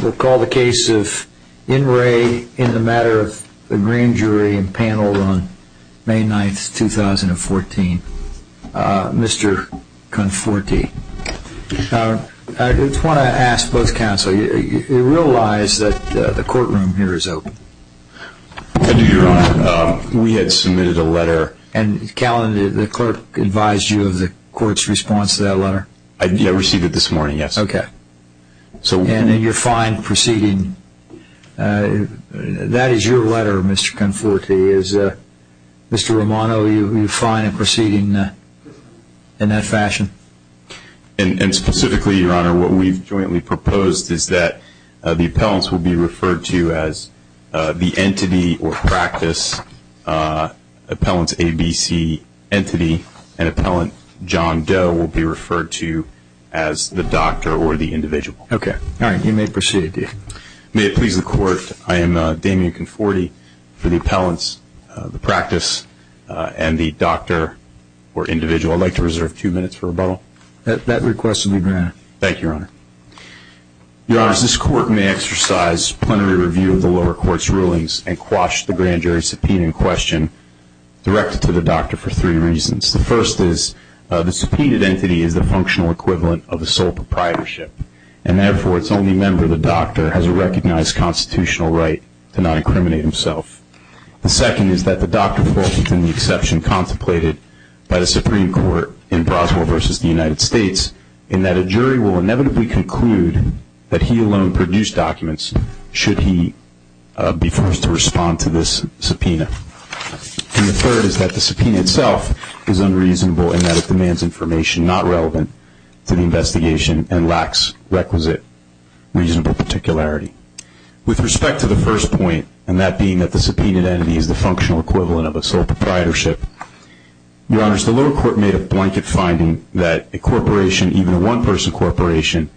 We'll call the case of In Re In the Matter of the Grand Jury and panel on May 9, 2014. Mr. Conforti. I just want to ask both counsel, do you realize that the courtroom here is open? Your Honor, we had submitted a letter. And the clerk advised you of the court's response to that letter? I received it this morning, yes. And you're fine proceeding? That is your letter, Mr. Conforti. Is Mr. Romano fine in proceeding in that fashion? And specifically, Your Honor, what we've jointly proposed is that the appellants will be referred to as the entity or practice, appellant's ABC entity, and appellant John Doe will be referred to as the doctor or the individual. All right, you may proceed. May it please the Court, I am Damian Conforti for the appellants, the practice, and the doctor or individual. I'd like to reserve two minutes for rebuttal. That request will be granted. Thank you, Your Honor. Your Honors, this Court may exercise plenary review of the lower court's rulings and quash the grand jury's subpoena in question directed to the doctor for three reasons. The first is the subpoenaed entity is the functional equivalent of a sole proprietorship, and therefore its only member, the doctor, has a recognized constitutional right to not incriminate himself. The second is that the doctor falls within the exception contemplated by the Supreme Court in Broswell v. the United States in that a jury will inevitably conclude that he alone produced documents should he be forced to respond to this subpoena. And the third is that the subpoena itself is unreasonable in that it demands information not relevant to the investigation and lacks requisite reasonable particularity. With respect to the first point, and that being that the subpoenaed entity is the functional equivalent of a sole proprietorship, Your Honors, the lower court made a blanket finding that a corporation, even a one-person corporation,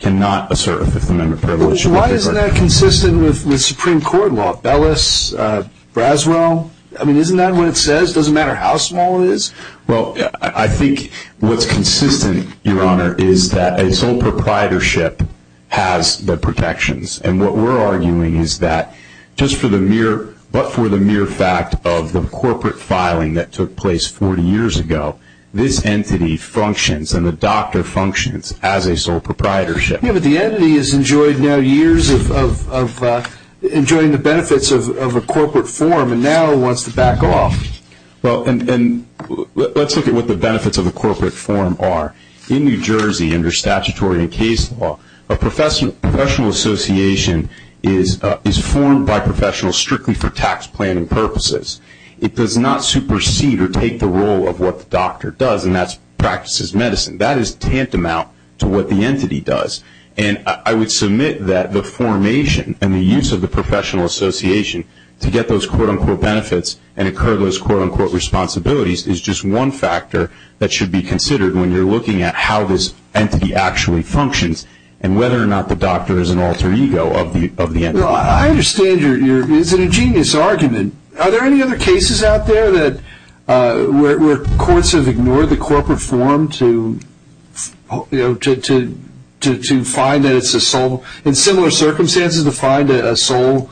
cannot assert a fifth-amendment privilege. Why isn't that consistent with Supreme Court law? Bellis, Broswell? I mean, isn't that what it says? It doesn't matter how small it is? Well, I think what's consistent, Your Honor, is that a sole proprietorship has the protections. And what we're arguing is that just for the mere, but for the mere fact of the corporate filing that took place 40 years ago, this entity functions and the doctor functions as a sole proprietorship. Yeah, but the entity has enjoyed now years of enjoying the benefits of a corporate form and now wants to back off. Well, and let's look at what the benefits of a corporate form are. In New Jersey, under statutory and case law, a professional association is formed by professionals strictly for tax planning purposes. It does not supersede or take the role of what the doctor does, and that's practices medicine. That is tantamount to what the entity does. And I would submit that the formation and the use of the professional association to get those quote-unquote benefits and incur those quote-unquote responsibilities is just one factor that should be considered when you're looking at how this entity actually functions and whether or not the doctor is an alter ego of the entity. Well, I understand your ingenious argument. Are there any other cases out there where courts have ignored the corporate form to find that it's a sole? In similar circumstances, to find a sole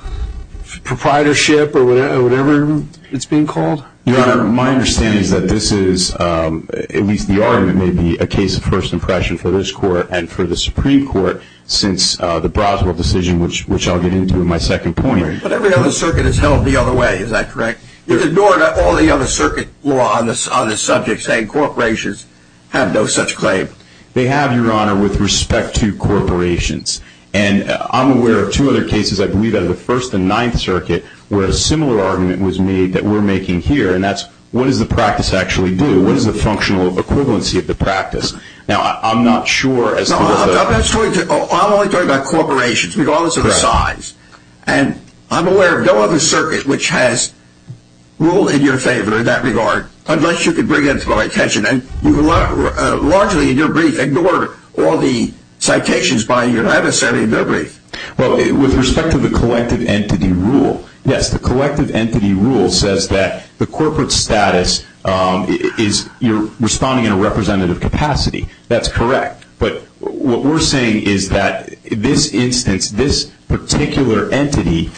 proprietorship or whatever it's being called? Your Honor, my understanding is that this is, at least the argument may be, a case of first impression for this court and for the Supreme Court since the Broswell decision, which I'll get into in my second point. But every other circuit is held the other way, is that correct? You've ignored all the other circuit law on this subject, saying corporations have no such claim. They have, Your Honor, with respect to corporations. And I'm aware of two other cases, I believe out of the First and Ninth Circuit, where a similar argument was made that we're making here and that's, what does the practice actually do? What is the functional equivalency of the practice? Now, I'm not sure as to whether... I'm only talking about corporations, regardless of the size. And I'm aware of no other circuit which has ruled in your favor in that regard, unless you could bring that to my attention. And you've largely, in your brief, ignored all the citations by your other side in your brief. Well, with respect to the collective entity rule, yes, the collective entity rule says that the corporate status is responding in a representative capacity. That's correct. But what we're saying is that this instance, this particular entity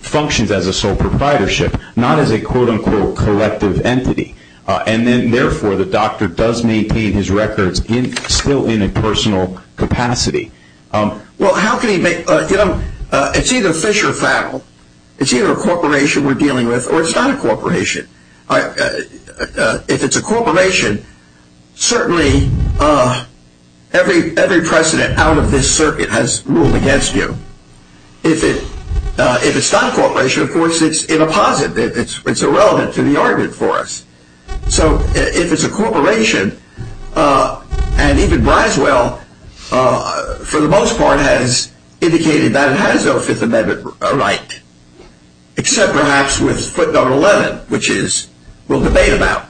functions as a sole proprietorship, not as a quote-unquote collective entity. And then, therefore, the doctor does maintain his records still in a personal capacity. Well, how can he make... It's either fish or fowl. It's either a corporation we're dealing with, or it's not a corporation. If it's a corporation, certainly every precedent out of this circuit has ruled against you. If it's not a corporation, of course, it's in a posit. It's irrelevant to the argument for us. So, if it's a corporation, and even Briswell, for the most part, has indicated that it has no Fifth Amendment right. Except, perhaps, with footnote 11, which we'll debate about.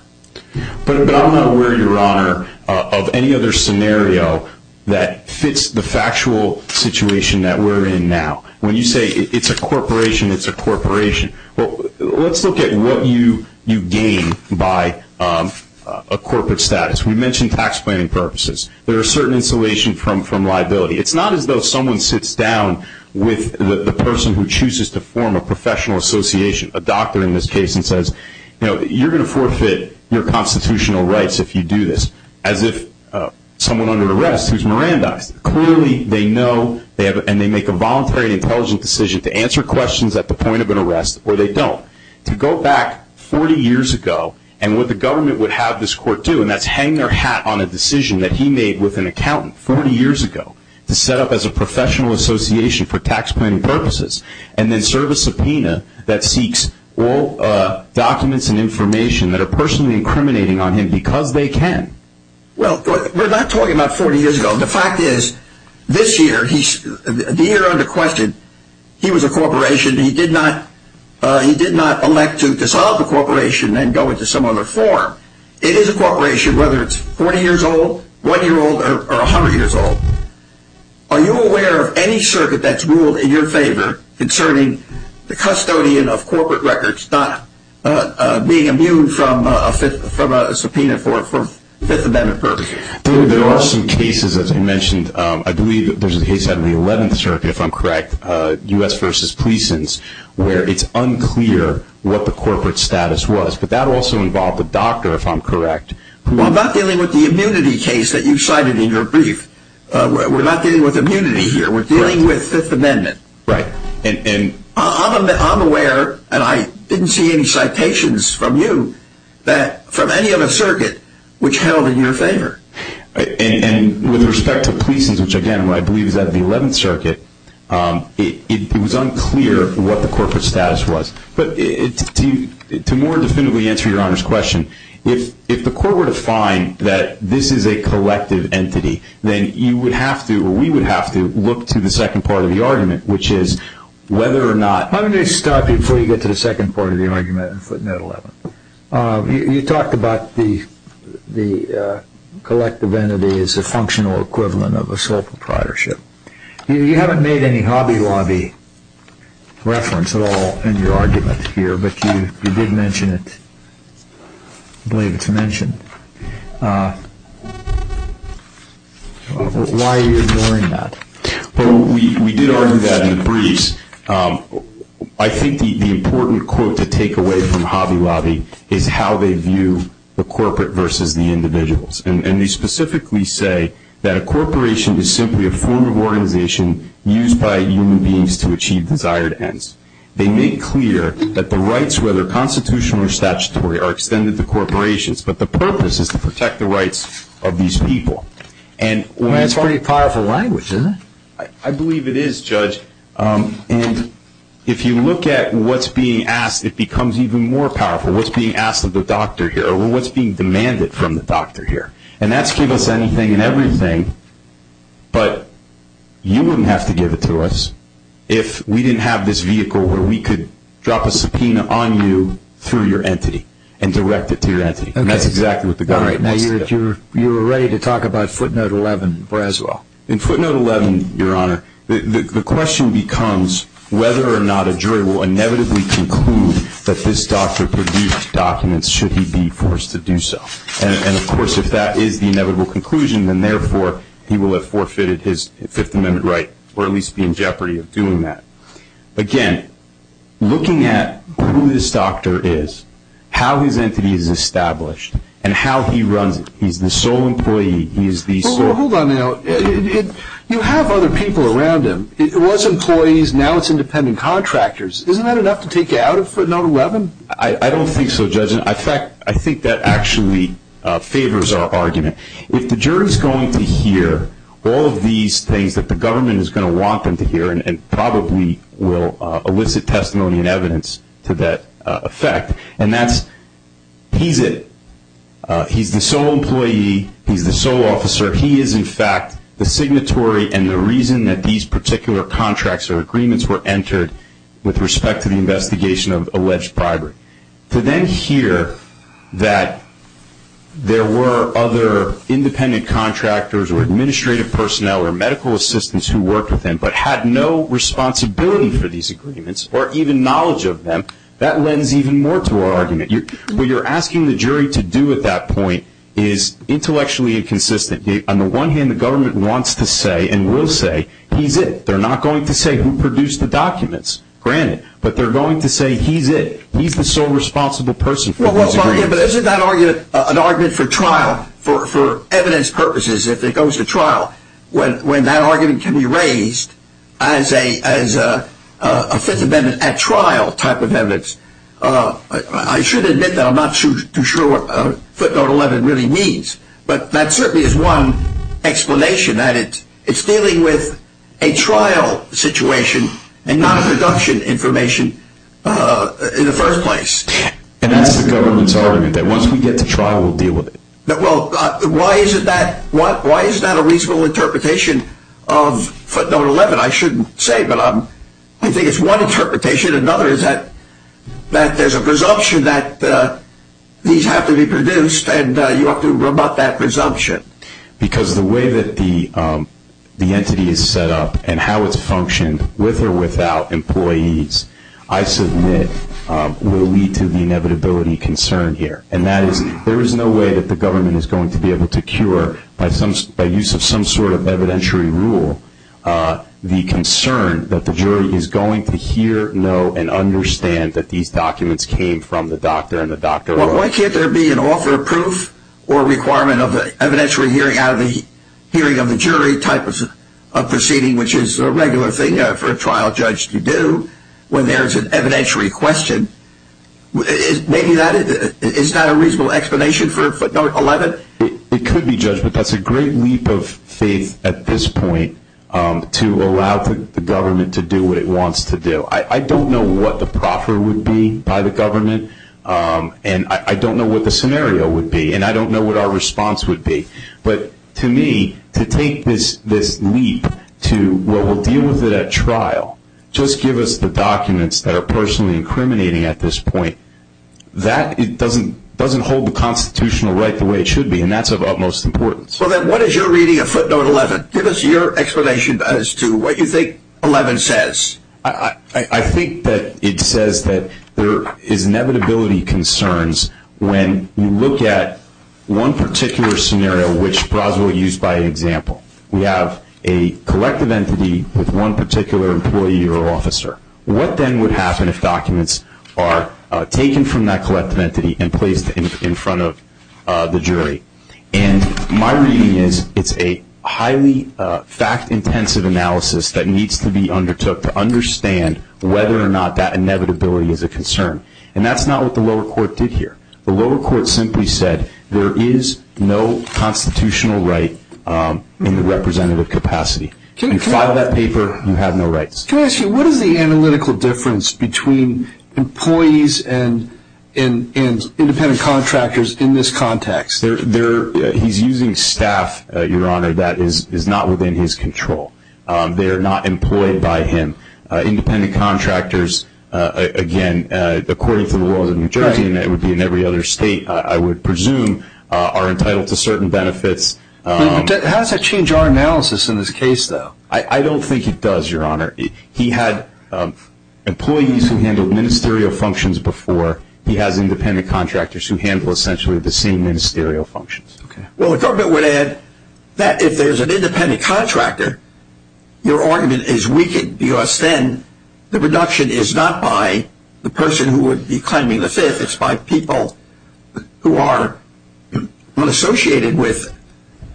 But I'm not aware, Your Honor, of any other scenario that fits the factual situation that we're in now. When you say it's a corporation, it's a corporation. Well, let's look at what you gain by a corporate status. We mentioned tax planning purposes. There are certain insulation from liability. It's not as though someone sits down with the person who chooses to form a professional association, a doctor in this case, and says, you know, you're going to forfeit your constitutional rights if you do this. As if someone under arrest who's Mirandized. Clearly, they know, and they make a voluntary and intelligent decision to answer questions at the point of an arrest, or they don't. To go back 40 years ago, and what the government would have this court do, and that's hang their hat on a decision that he made with an accountant 40 years ago, to set up as a professional association for tax planning purposes, and then serve a subpoena that seeks all documents and information that are personally incriminating on him because they can. Well, we're not talking about 40 years ago. The fact is, this year, the year under question, he was a corporation. He did not elect to dissolve the corporation and go into some other form. It is a corporation, whether it's 40 years old, one year old, or 100 years old. Are you aware of any circuit that's ruled in your favor concerning the custodian of corporate records, not being immune from a subpoena for Fifth Amendment purposes? There are some cases, as I mentioned. I believe there's a case out of the 11th Circuit, if I'm correct, U.S. v. Pleasons, where it's unclear what the corporate status was, but that also involved a doctor, if I'm correct. Well, I'm not dealing with the immunity case that you cited in your brief. We're not dealing with immunity here. We're dealing with Fifth Amendment. Right. I'm aware, and I didn't see any citations from you from any other circuit which held in your favor. And with respect to Pleasons, which, again, I believe is out of the 11th Circuit, it was unclear what the corporate status was. But to more definitively answer Your Honor's question, if the court were to find that this is a collective entity, then you would have to, or we would have to, look to the second part of the argument, which is whether or not- Let me stop you before you get to the second part of the argument in footnote 11. You talked about the collective entity as a functional equivalent of a sole proprietorship. You haven't made any Hobby Lobby reference at all in your argument here, but you did mention it. I believe it's mentioned. Why are you ignoring that? Well, we did argue that in the briefs. I think the important quote to take away from Hobby Lobby is how they view the corporate versus the individuals. And they specifically say that a corporation is simply a form of organization used by human beings to achieve desired ends. They make clear that the rights, whether constitutional or statutory, are extended to corporations, but the purpose is to protect the rights of these people. That's pretty powerful language, isn't it? I believe it is, Judge. And if you look at what's being asked, it becomes even more powerful. What's being asked of the doctor here or what's being demanded from the doctor here. And that's given us anything and everything, but you wouldn't have to give it to us if we didn't have this vehicle where we could drop a subpoena on you through your entity and direct it to your entity. And that's exactly what the government wants to do. You were ready to talk about footnote 11 as well. In footnote 11, Your Honor, the question becomes whether or not a jury will inevitably conclude that this doctor produced documents should he be forced to do so. And, of course, if that is the inevitable conclusion, then, therefore, he will have forfeited his Fifth Amendment right or at least be in jeopardy of doing that. Again, looking at who this doctor is, how his entity is established, and how he runs it. He's the sole employee. Hold on now. You have other people around him. It was employees. Now it's independent contractors. Isn't that enough to take you out of footnote 11? I don't think so, Judge. In fact, I think that actually favors our argument. If the jury is going to hear all of these things that the government is going to want them to hear and probably will elicit testimony and evidence to that effect, and that's he's it. He's the sole employee. He's the sole officer. He is, in fact, the signatory and the reason that these particular contracts or agreements were entered with respect to the investigation of alleged bribery. To then hear that there were other independent contractors or administrative personnel or medical assistants who worked with him but had no responsibility for these agreements or even knowledge of them, that lends even more to our argument. What you're asking the jury to do at that point is intellectually inconsistent. On the one hand, the government wants to say and will say he's it. They're not going to say who produced the documents, granted. But they're going to say he's it. He's the sole responsible person for those agreements. But isn't that argument an argument for trial, for evidence purposes, if it goes to trial? When that argument can be raised as a Fifth Amendment at trial type of evidence, I should admit that I'm not too sure what footnote 11 really means. But that certainly is one explanation that it's dealing with a trial situation and not a production information in the first place. And that's the government's argument that once we get to trial, we'll deal with it. Well, why is that a reasonable interpretation of footnote 11? I shouldn't say, but I think it's one interpretation. Another is that there's a presumption that these have to be produced and you ought to rebut that presumption. Because the way that the entity is set up and how it's functioned, with or without employees, I submit will lead to the inevitability concern here. And that is there is no way that the government is going to be able to cure, by use of some sort of evidentiary rule, the concern that the jury is going to hear, know, and understand that these documents came from the doctor and the doctor. Why can't there be an offer of proof or requirement of an evidentiary hearing out of the hearing of the jury type of proceeding, which is a regular thing for a trial judge to do when there's an evidentiary question? Maybe that is not a reasonable explanation for footnote 11? It could be, Judge, but that's a great leap of faith at this point to allow the government to do what it wants to do. And I don't know what the scenario would be, and I don't know what our response would be. But to me, to take this leap to what will deal with it at trial, just give us the documents that are personally incriminating at this point, that doesn't hold the constitutional right the way it should be, and that's of utmost importance. Well, then what is your reading of footnote 11? Give us your explanation as to what you think 11 says. I think that it says that there is inevitability concerns when you look at one particular scenario, which Braswell used by example. We have a collective entity with one particular employee or officer. What then would happen if documents are taken from that collective entity and placed in front of the jury? And my reading is it's a highly fact-intensive analysis that needs to be undertook to understand whether or not that inevitability is a concern. And that's not what the lower court did here. The lower court simply said there is no constitutional right in the representative capacity. You file that paper, you have no rights. Can I ask you, what is the analytical difference between employees and independent contractors in this context? He's using staff, Your Honor, that is not within his control. They are not employed by him. Independent contractors, again, according to the laws of New Jersey, and it would be in every other state, I would presume, are entitled to certain benefits. How does that change our analysis in this case, though? I don't think it does, Your Honor. He had employees who handled ministerial functions before. He has independent contractors who handle essentially the same ministerial functions. Well, the government would add that if there's an independent contractor, your argument is weakened because then the reduction is not by the person who would be claiming the Fifth. It's by people who are associated with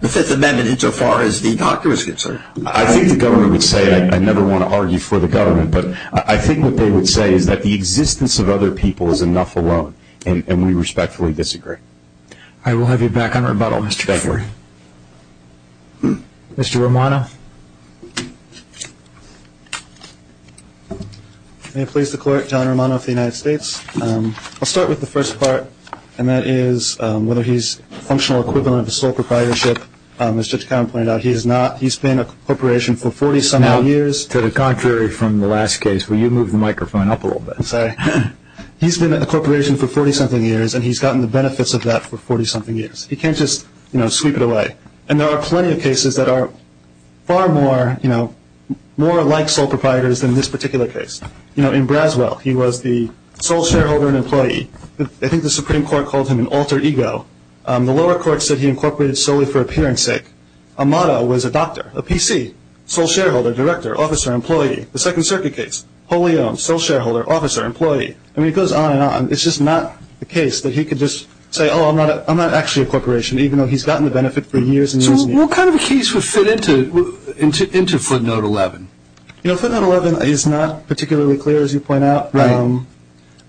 the Fifth Amendment insofar as the doctor is concerned. I think the government would say, and I never want to argue for the government, but I think what they would say is that the existence of other people is enough alone, and we respectfully disagree. I will have you back on rebuttal, Mr. Gregory. Mr. Romano. May it please the clerk, John Romano of the United States. I'll start with the first part, and that is whether he's a functional equivalent of a sole proprietorship. As Judge Cowen pointed out, he is not. He's been a corporation for 40-something years. Now, to the contrary from the last case, will you move the microphone up a little bit? I'm sorry. He's been a corporation for 40-something years, and he's gotten the benefits of that for 40-something years. He can't just sweep it away. And there are plenty of cases that are far more like sole proprietors than this particular case. In Braswell, he was the sole shareholder and employee. I think the Supreme Court called him an alter ego. The lower court said he incorporated solely for appearance sake. Amato was a doctor, a PC, sole shareholder, director, officer, employee. The Second Circuit case, wholly owned, sole shareholder, officer, employee. I mean, it goes on and on. It's just not the case that he could just say, oh, I'm not actually a corporation, even though he's gotten the benefit for years and years and years. So what kind of a case would fit into footnote 11? You know, footnote 11 is not particularly clear, as you point out. Right.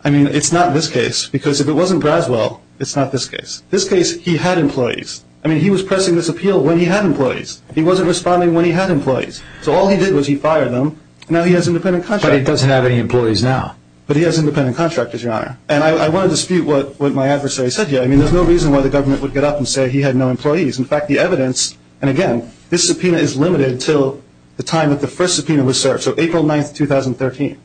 I mean, it's not this case, because if it wasn't Braswell, it's not this case. This case, he had employees. I mean, he was pressing this appeal when he had employees. He wasn't responding when he had employees. So all he did was he fired them, and now he has independent contractors. But he doesn't have any employees now. But he has independent contractors, Your Honor. And I want to dispute what my adversary said here. I mean, there's no reason why the government would get up and say he had no employees. In fact, the evidence, and again, this subpoena is limited until the time that the first subpoena was served, so April 9th, 2013.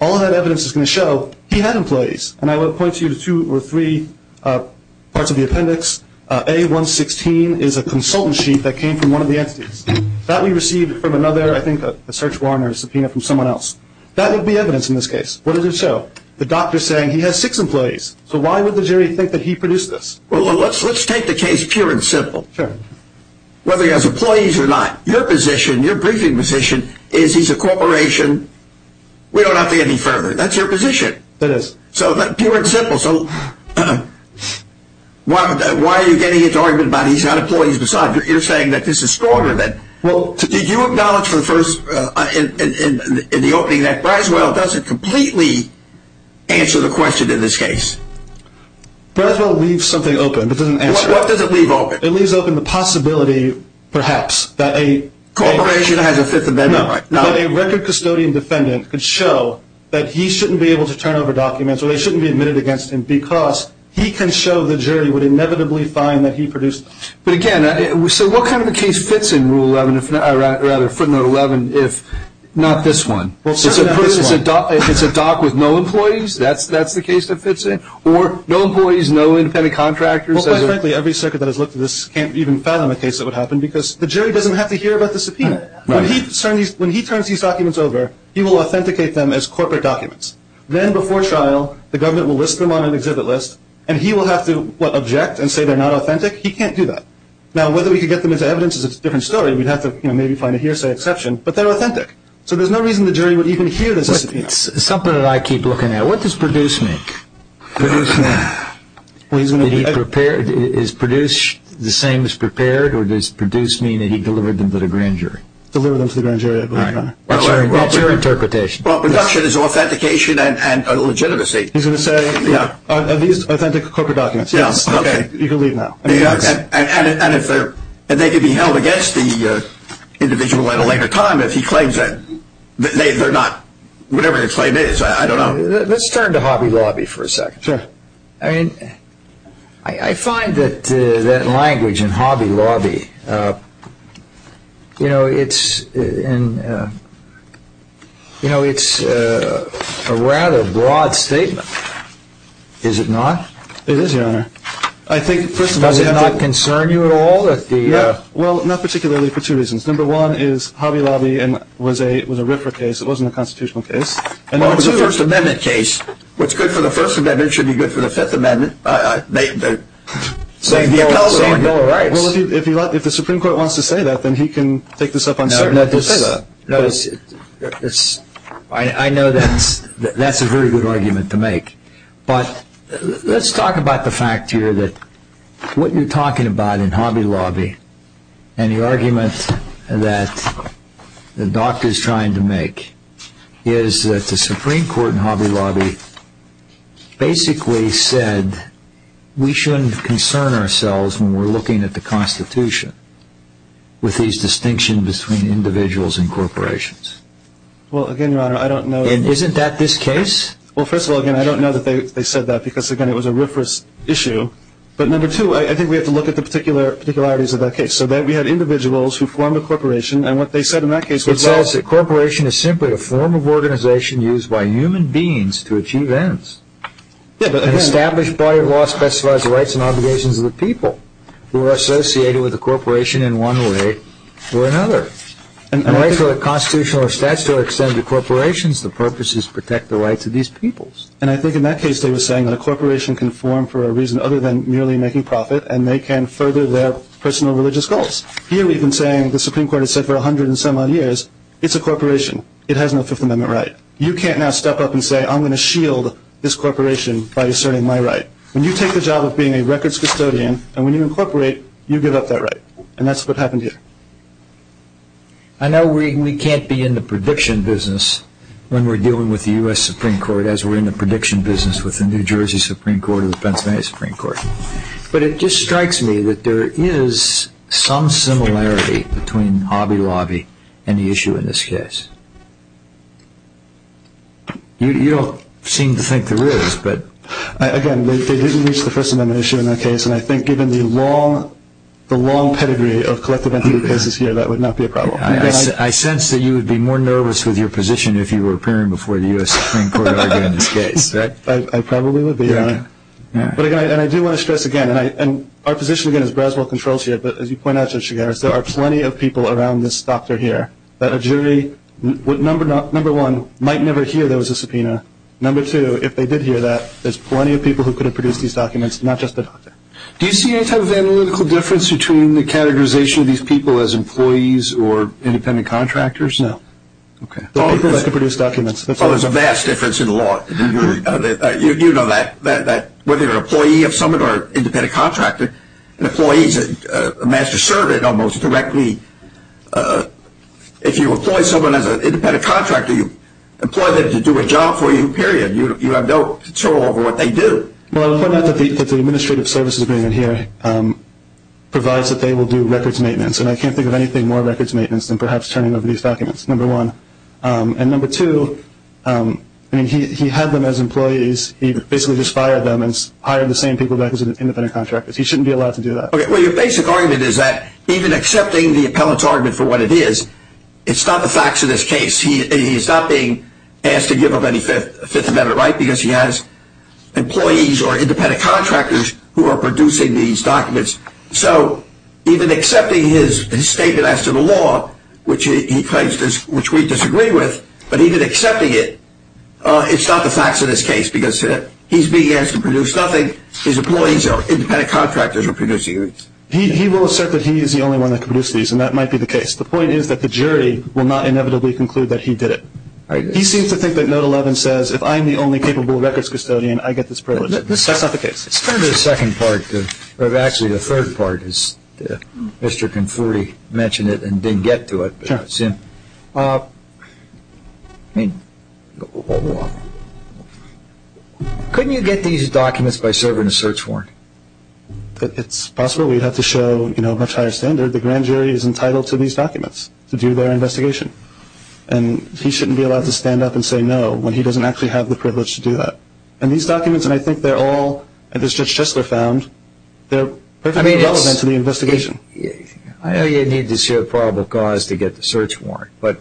All of that evidence is going to show he had employees. And I will point you to two or three parts of the appendix. A116 is a consultant sheet that came from one of the entities. That we received from another, I think a search warrant or a subpoena from someone else. That would be evidence in this case. What does it show? The doctor saying he has six employees. So why would the jury think that he produced this? Well, let's take the case pure and simple. Sure. Whether he has employees or not, your position, your briefing position is he's a corporation. We don't have to get any further. That's your position. That is. So pure and simple. So why are you getting into argument about he's got employees? Besides, you're saying that this is stronger than. Well, did you acknowledge in the opening that Braswell doesn't completely answer the question in this case? Braswell leaves something open, but doesn't answer it. What does it leave open? It leaves open the possibility, perhaps, that a corporation has a Fifth Amendment right. That a record custodian defendant could show that he shouldn't be able to turn over documents or they shouldn't be admitted against him because he can show the jury would inevitably find that he produced. But, again, so what kind of a case fits in Rule 11, or rather Footnote 11, if not this one? Well, certainly not this one. It's a doc with no employees? That's the case that fits in? Or no employees, no independent contractors? Well, quite frankly, every circuit that has looked at this can't even fathom a case that would happen because the jury doesn't have to hear about the subpoena. When he turns these documents over, he will authenticate them as corporate documents. Then, before trial, the government will list them on an exhibit list, and he will have to, what, object and say they're not authentic? He can't do that. Now, whether we can get them as evidence is a different story. We'd have to maybe find a hearsay exception, but they're authentic. So there's no reason the jury would even hear the subpoena. It's something that I keep looking at. What does produce mean? Is produce the same as prepared, or does produce mean that he delivered them to the grand jury? Delivered them to the grand jury, I believe, Your Honor. That's your interpretation. Well, production is authentication and legitimacy. He's going to say, are these authentic corporate documents? Yes. Okay. You can leave now. And they could be held against the individual at a later time if he claims that they're not. Whatever his claim is, I don't know. Let's turn to Hobby Lobby for a second. Sure. I mean, I find that language in Hobby Lobby, you know, it's a rather broad statement, is it not? It is, Your Honor. Does it not concern you at all? Well, not particularly for two reasons. Number one is Hobby Lobby was a RIFRA case. It wasn't a constitutional case. Well, it was a First Amendment case. What's good for the First Amendment should be good for the Fifth Amendment. Same bill of rights. Well, if the Supreme Court wants to say that, then he can take this up on Saturday. I know that's a very good argument to make. But let's talk about the fact here that what you're talking about in Hobby Lobby and the argument that the doctor is trying to make is that the Supreme Court in Hobby Lobby basically said we shouldn't concern ourselves when we're looking at the Constitution with these distinctions between individuals and corporations. Well, again, Your Honor, I don't know. And isn't that this case? Well, first of all, again, I don't know that they said that because, again, it was a RIFRA issue. But number two, I think we have to look at the particularities of that case. So we had individuals who formed a corporation, and what they said in that case was that it says a corporation is simply a form of organization used by human beings to achieve ends. An established body of law specifies the rights and obligations of the people who are associated with a corporation in one way or another. And the rights of a constitutional or statutory extent to corporations, the purpose is to protect the rights of these peoples. And I think in that case they were saying that a corporation can form for a reason other than merely making profit, and they can further their personal religious goals. Here we've been saying, the Supreme Court has said for 100 and some odd years, it's a corporation. It has no Fifth Amendment right. You can't now step up and say I'm going to shield this corporation by asserting my right. When you take the job of being a records custodian, and when you incorporate, you give up that right. And that's what happened here. I know we can't be in the prediction business when we're dealing with the U.S. Supreme Court, as we're in the prediction business with the New Jersey Supreme Court or the Pennsylvania Supreme Court, but it just strikes me that there is some similarity between Hobby Lobby and the issue in this case. You don't seem to think there is, but... Again, they didn't reach the First Amendment issue in that case, and I think given the long pedigree of collective entity cases here, that would not be a problem. I sense that you would be more nervous with your position if you were appearing before the U.S. Supreme Court in this case. I probably would be. But again, I do want to stress again, and our position again is Braswell controls here, but as you point out, Judge Chigares, there are plenty of people around this doctor here that a jury, number one, might never hear there was a subpoena. Number two, if they did hear that, there's plenty of people who could have produced these documents, not just the doctor. Do you see any type of analytical difference between the categorization of these people as employees or independent contractors? No. Okay. The people that could produce documents. There's a vast difference in the law. You know that, whether you're an employee of someone or an independent contractor, an employee is a master servant almost directly. If you employ someone as an independent contractor, you employ them to do a job for you, period. You have no control over what they do. Well, I'll point out that the administrative services agreement here provides that they will do records maintenance, and I can't think of anything more records maintenance than perhaps turning over these documents, number one. And number two, I mean, he had them as employees. He basically just fired them and hired the same people back as independent contractors. He shouldn't be allowed to do that. Well, your basic argument is that even accepting the appellant's argument for what it is, it's not the facts of this case. He's not being asked to give up any Fifth Amendment rights because he has employees or independent contractors who are producing these documents. So even accepting his statement as to the law, which he claims we disagree with, but even accepting it, it's not the facts of this case because he's being asked to produce nothing. His employees are independent contractors who are producing these. He will assert that he is the only one that can produce these, and that might be the case. The point is that the jury will not inevitably conclude that he did it. He seems to think that Note 11 says, if I'm the only capable records custodian, I get this privilege. That's not the case. Let's turn to the second part, or actually the third part, as Mr. Conforti mentioned it and didn't get to it. Couldn't you get these documents by serving a search warrant? It's possible. We'd have to show a much higher standard. The grand jury is entitled to these documents to do their investigation. And he shouldn't be allowed to stand up and say no when he doesn't actually have the privilege to do that. And these documents, and I think they're all, as Judge Chistler found, they're perfectly relevant to the investigation. I know you need to see a probable cause to get the search warrant, but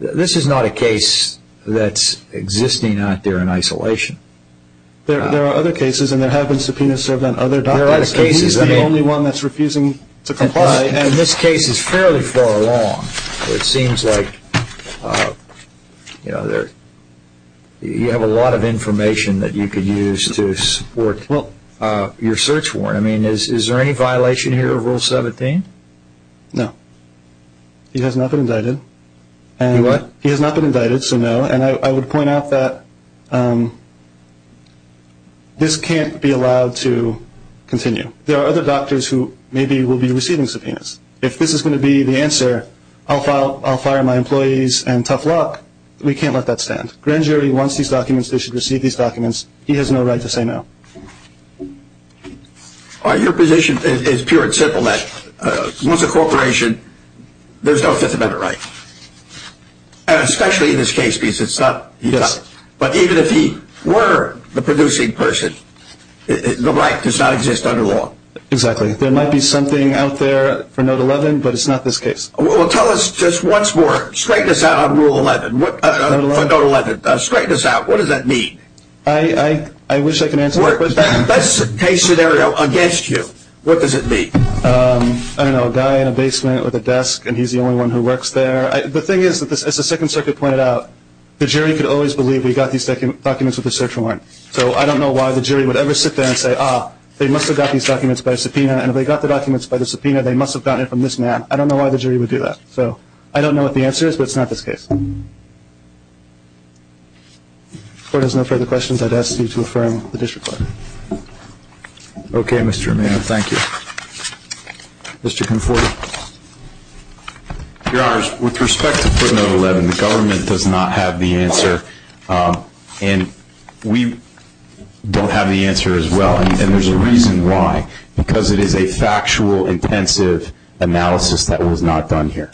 this is not a case that's existing out there in isolation. There are other cases, and there have been subpoenas served on other documents. He's the only one that's refusing to comply, and this case is fairly far along. It seems like you have a lot of information that you could use to support your search warrant. I mean, is there any violation here of Rule 17? No. He has not been indicted. What? He has not been indicted, so no. And I would point out that this can't be allowed to continue. There are other doctors who maybe will be receiving subpoenas. If this is going to be the answer, I'll fire my employees and tough luck, we can't let that stand. Grand jury wants these documents. They should receive these documents. He has no right to say no. Your position is pure and simple, that once a corporation, there's no Fifth Amendment right, and especially in this case because it's not Utah. Yes. But even if he were the producing person, the right does not exist under law. Exactly. There might be something out there for Note 11, but it's not this case. Well, tell us just once more. Straighten us out on Rule 11. Straighten us out. What does that mean? I wish I could answer that. That's a case scenario against you. What does it mean? I don't know. A guy in a basement with a desk, and he's the only one who works there. The thing is, as the Second Circuit pointed out, the jury could always believe we got these documents with a search warrant. So I don't know why the jury would ever sit there and say, ah, they must have got these documents by a subpoena, and if they got the documents by the subpoena, they must have gotten it from this man. I don't know why the jury would do that. So I don't know what the answer is, but it's not this case. If the Court has no further questions, I'd ask you to affirm the disreport. Okay, Mr. Romano. Thank you. Mr. Conforti. Your Honors, with respect to footnote 11, the government does not have the answer, and we don't have the answer as well, and there's a reason why, because it is a factual, intensive analysis that was not done here.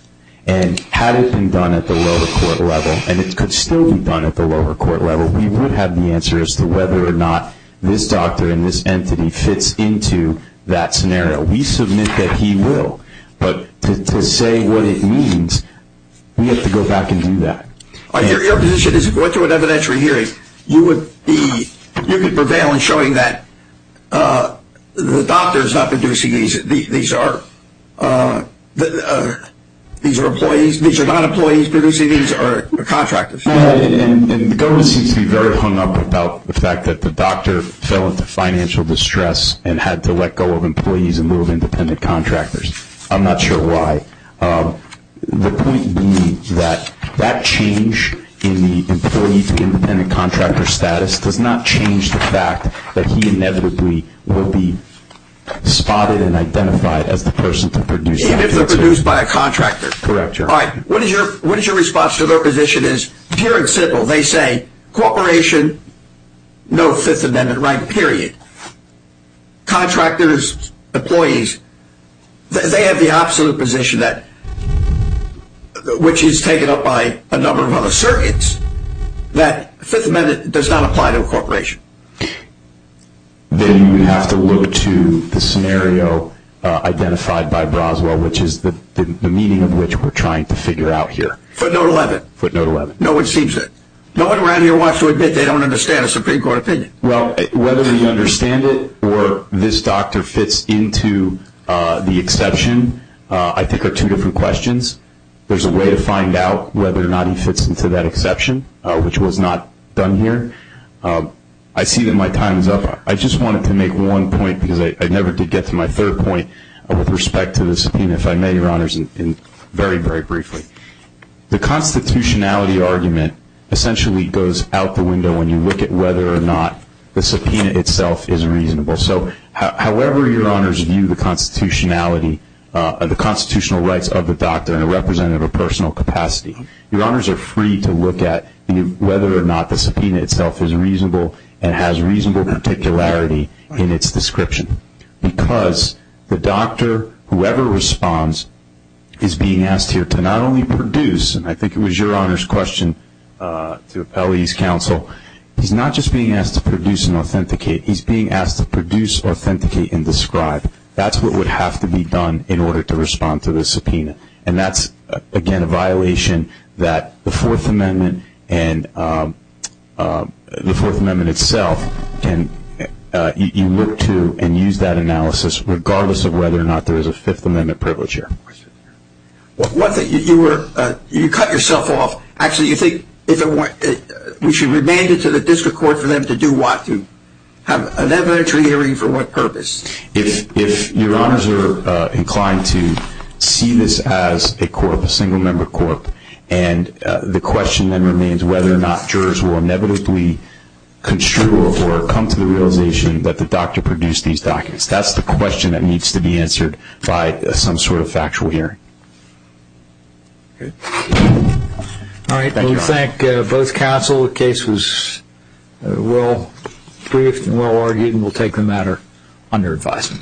And had it been done at the lower court level, and it could still be done at the lower court level, we would have the answer as to whether or not this doctor and this entity fits into that scenario. We submit that he will, but to say what it means, we have to go back and do that. Your position is if we're going to an evidentiary hearing, you would prevail in showing that the doctor is not producing these. These are employees. These are not employees producing these. These are contractors. And the government seems to be very hung up about the fact that the doctor fell into financial distress and had to let go of employees and move independent contractors. I'm not sure why. The point being that that change in the employee to independent contractor status does not change the fact that he inevitably will be spotted and identified as the person to produce the medicine. Even if they're produced by a contractor. Correct, Your Honor. All right, what is your response to their position is, pure and simple, they say corporation, no Fifth Amendment right, period. Contractors, employees, they have the absolute position that, which is taken up by a number of other circuits, that Fifth Amendment does not apply to a corporation. Then you have to look to the scenario identified by Broswell, which is the meaning of which we're trying to figure out here. Footnote 11. Footnote 11. No one around here wants to admit they don't understand a Supreme Court opinion. Well, whether you understand it or this doctor fits into the exception, I think are two different questions. There's a way to find out whether or not he fits into that exception, which was not done here. I see that my time is up. I just wanted to make one point because I never did get to my third point with respect to the subpoena, if I may, Your Honors, very, very briefly. The constitutionality argument essentially goes out the window when you look at whether or not the subpoena itself is reasonable. However Your Honors view the constitutionality, the constitutional rights of the doctor in a representative or personal capacity, Your Honors are free to look at whether or not the subpoena itself is reasonable and has reasonable particularity in its description. Because the doctor, whoever responds, is being asked here to not only produce, and I think it was Your Honors' question to appellee's counsel, he's not just being asked to produce and authenticate, he's being asked to produce, authenticate, and describe. That's what would have to be done in order to respond to the subpoena. And that's, again, a violation that the Fourth Amendment and the Fourth Amendment itself, you look to and use that analysis regardless of whether or not there is a Fifth Amendment privilege here. One thing, you cut yourself off. Actually, you think we should remand it to the district court for them to do what? To have an evidentiary hearing for what purpose? If Your Honors are inclined to see this as a court, a single-member court, and the question then remains whether or not jurors will inevitably construe or come to the realization that the doctor produced these documents. That's the question that needs to be answered by some sort of factual hearing. All right, we thank both counsel. The case was well-briefed and well-argued, and we'll take the matter under advisement.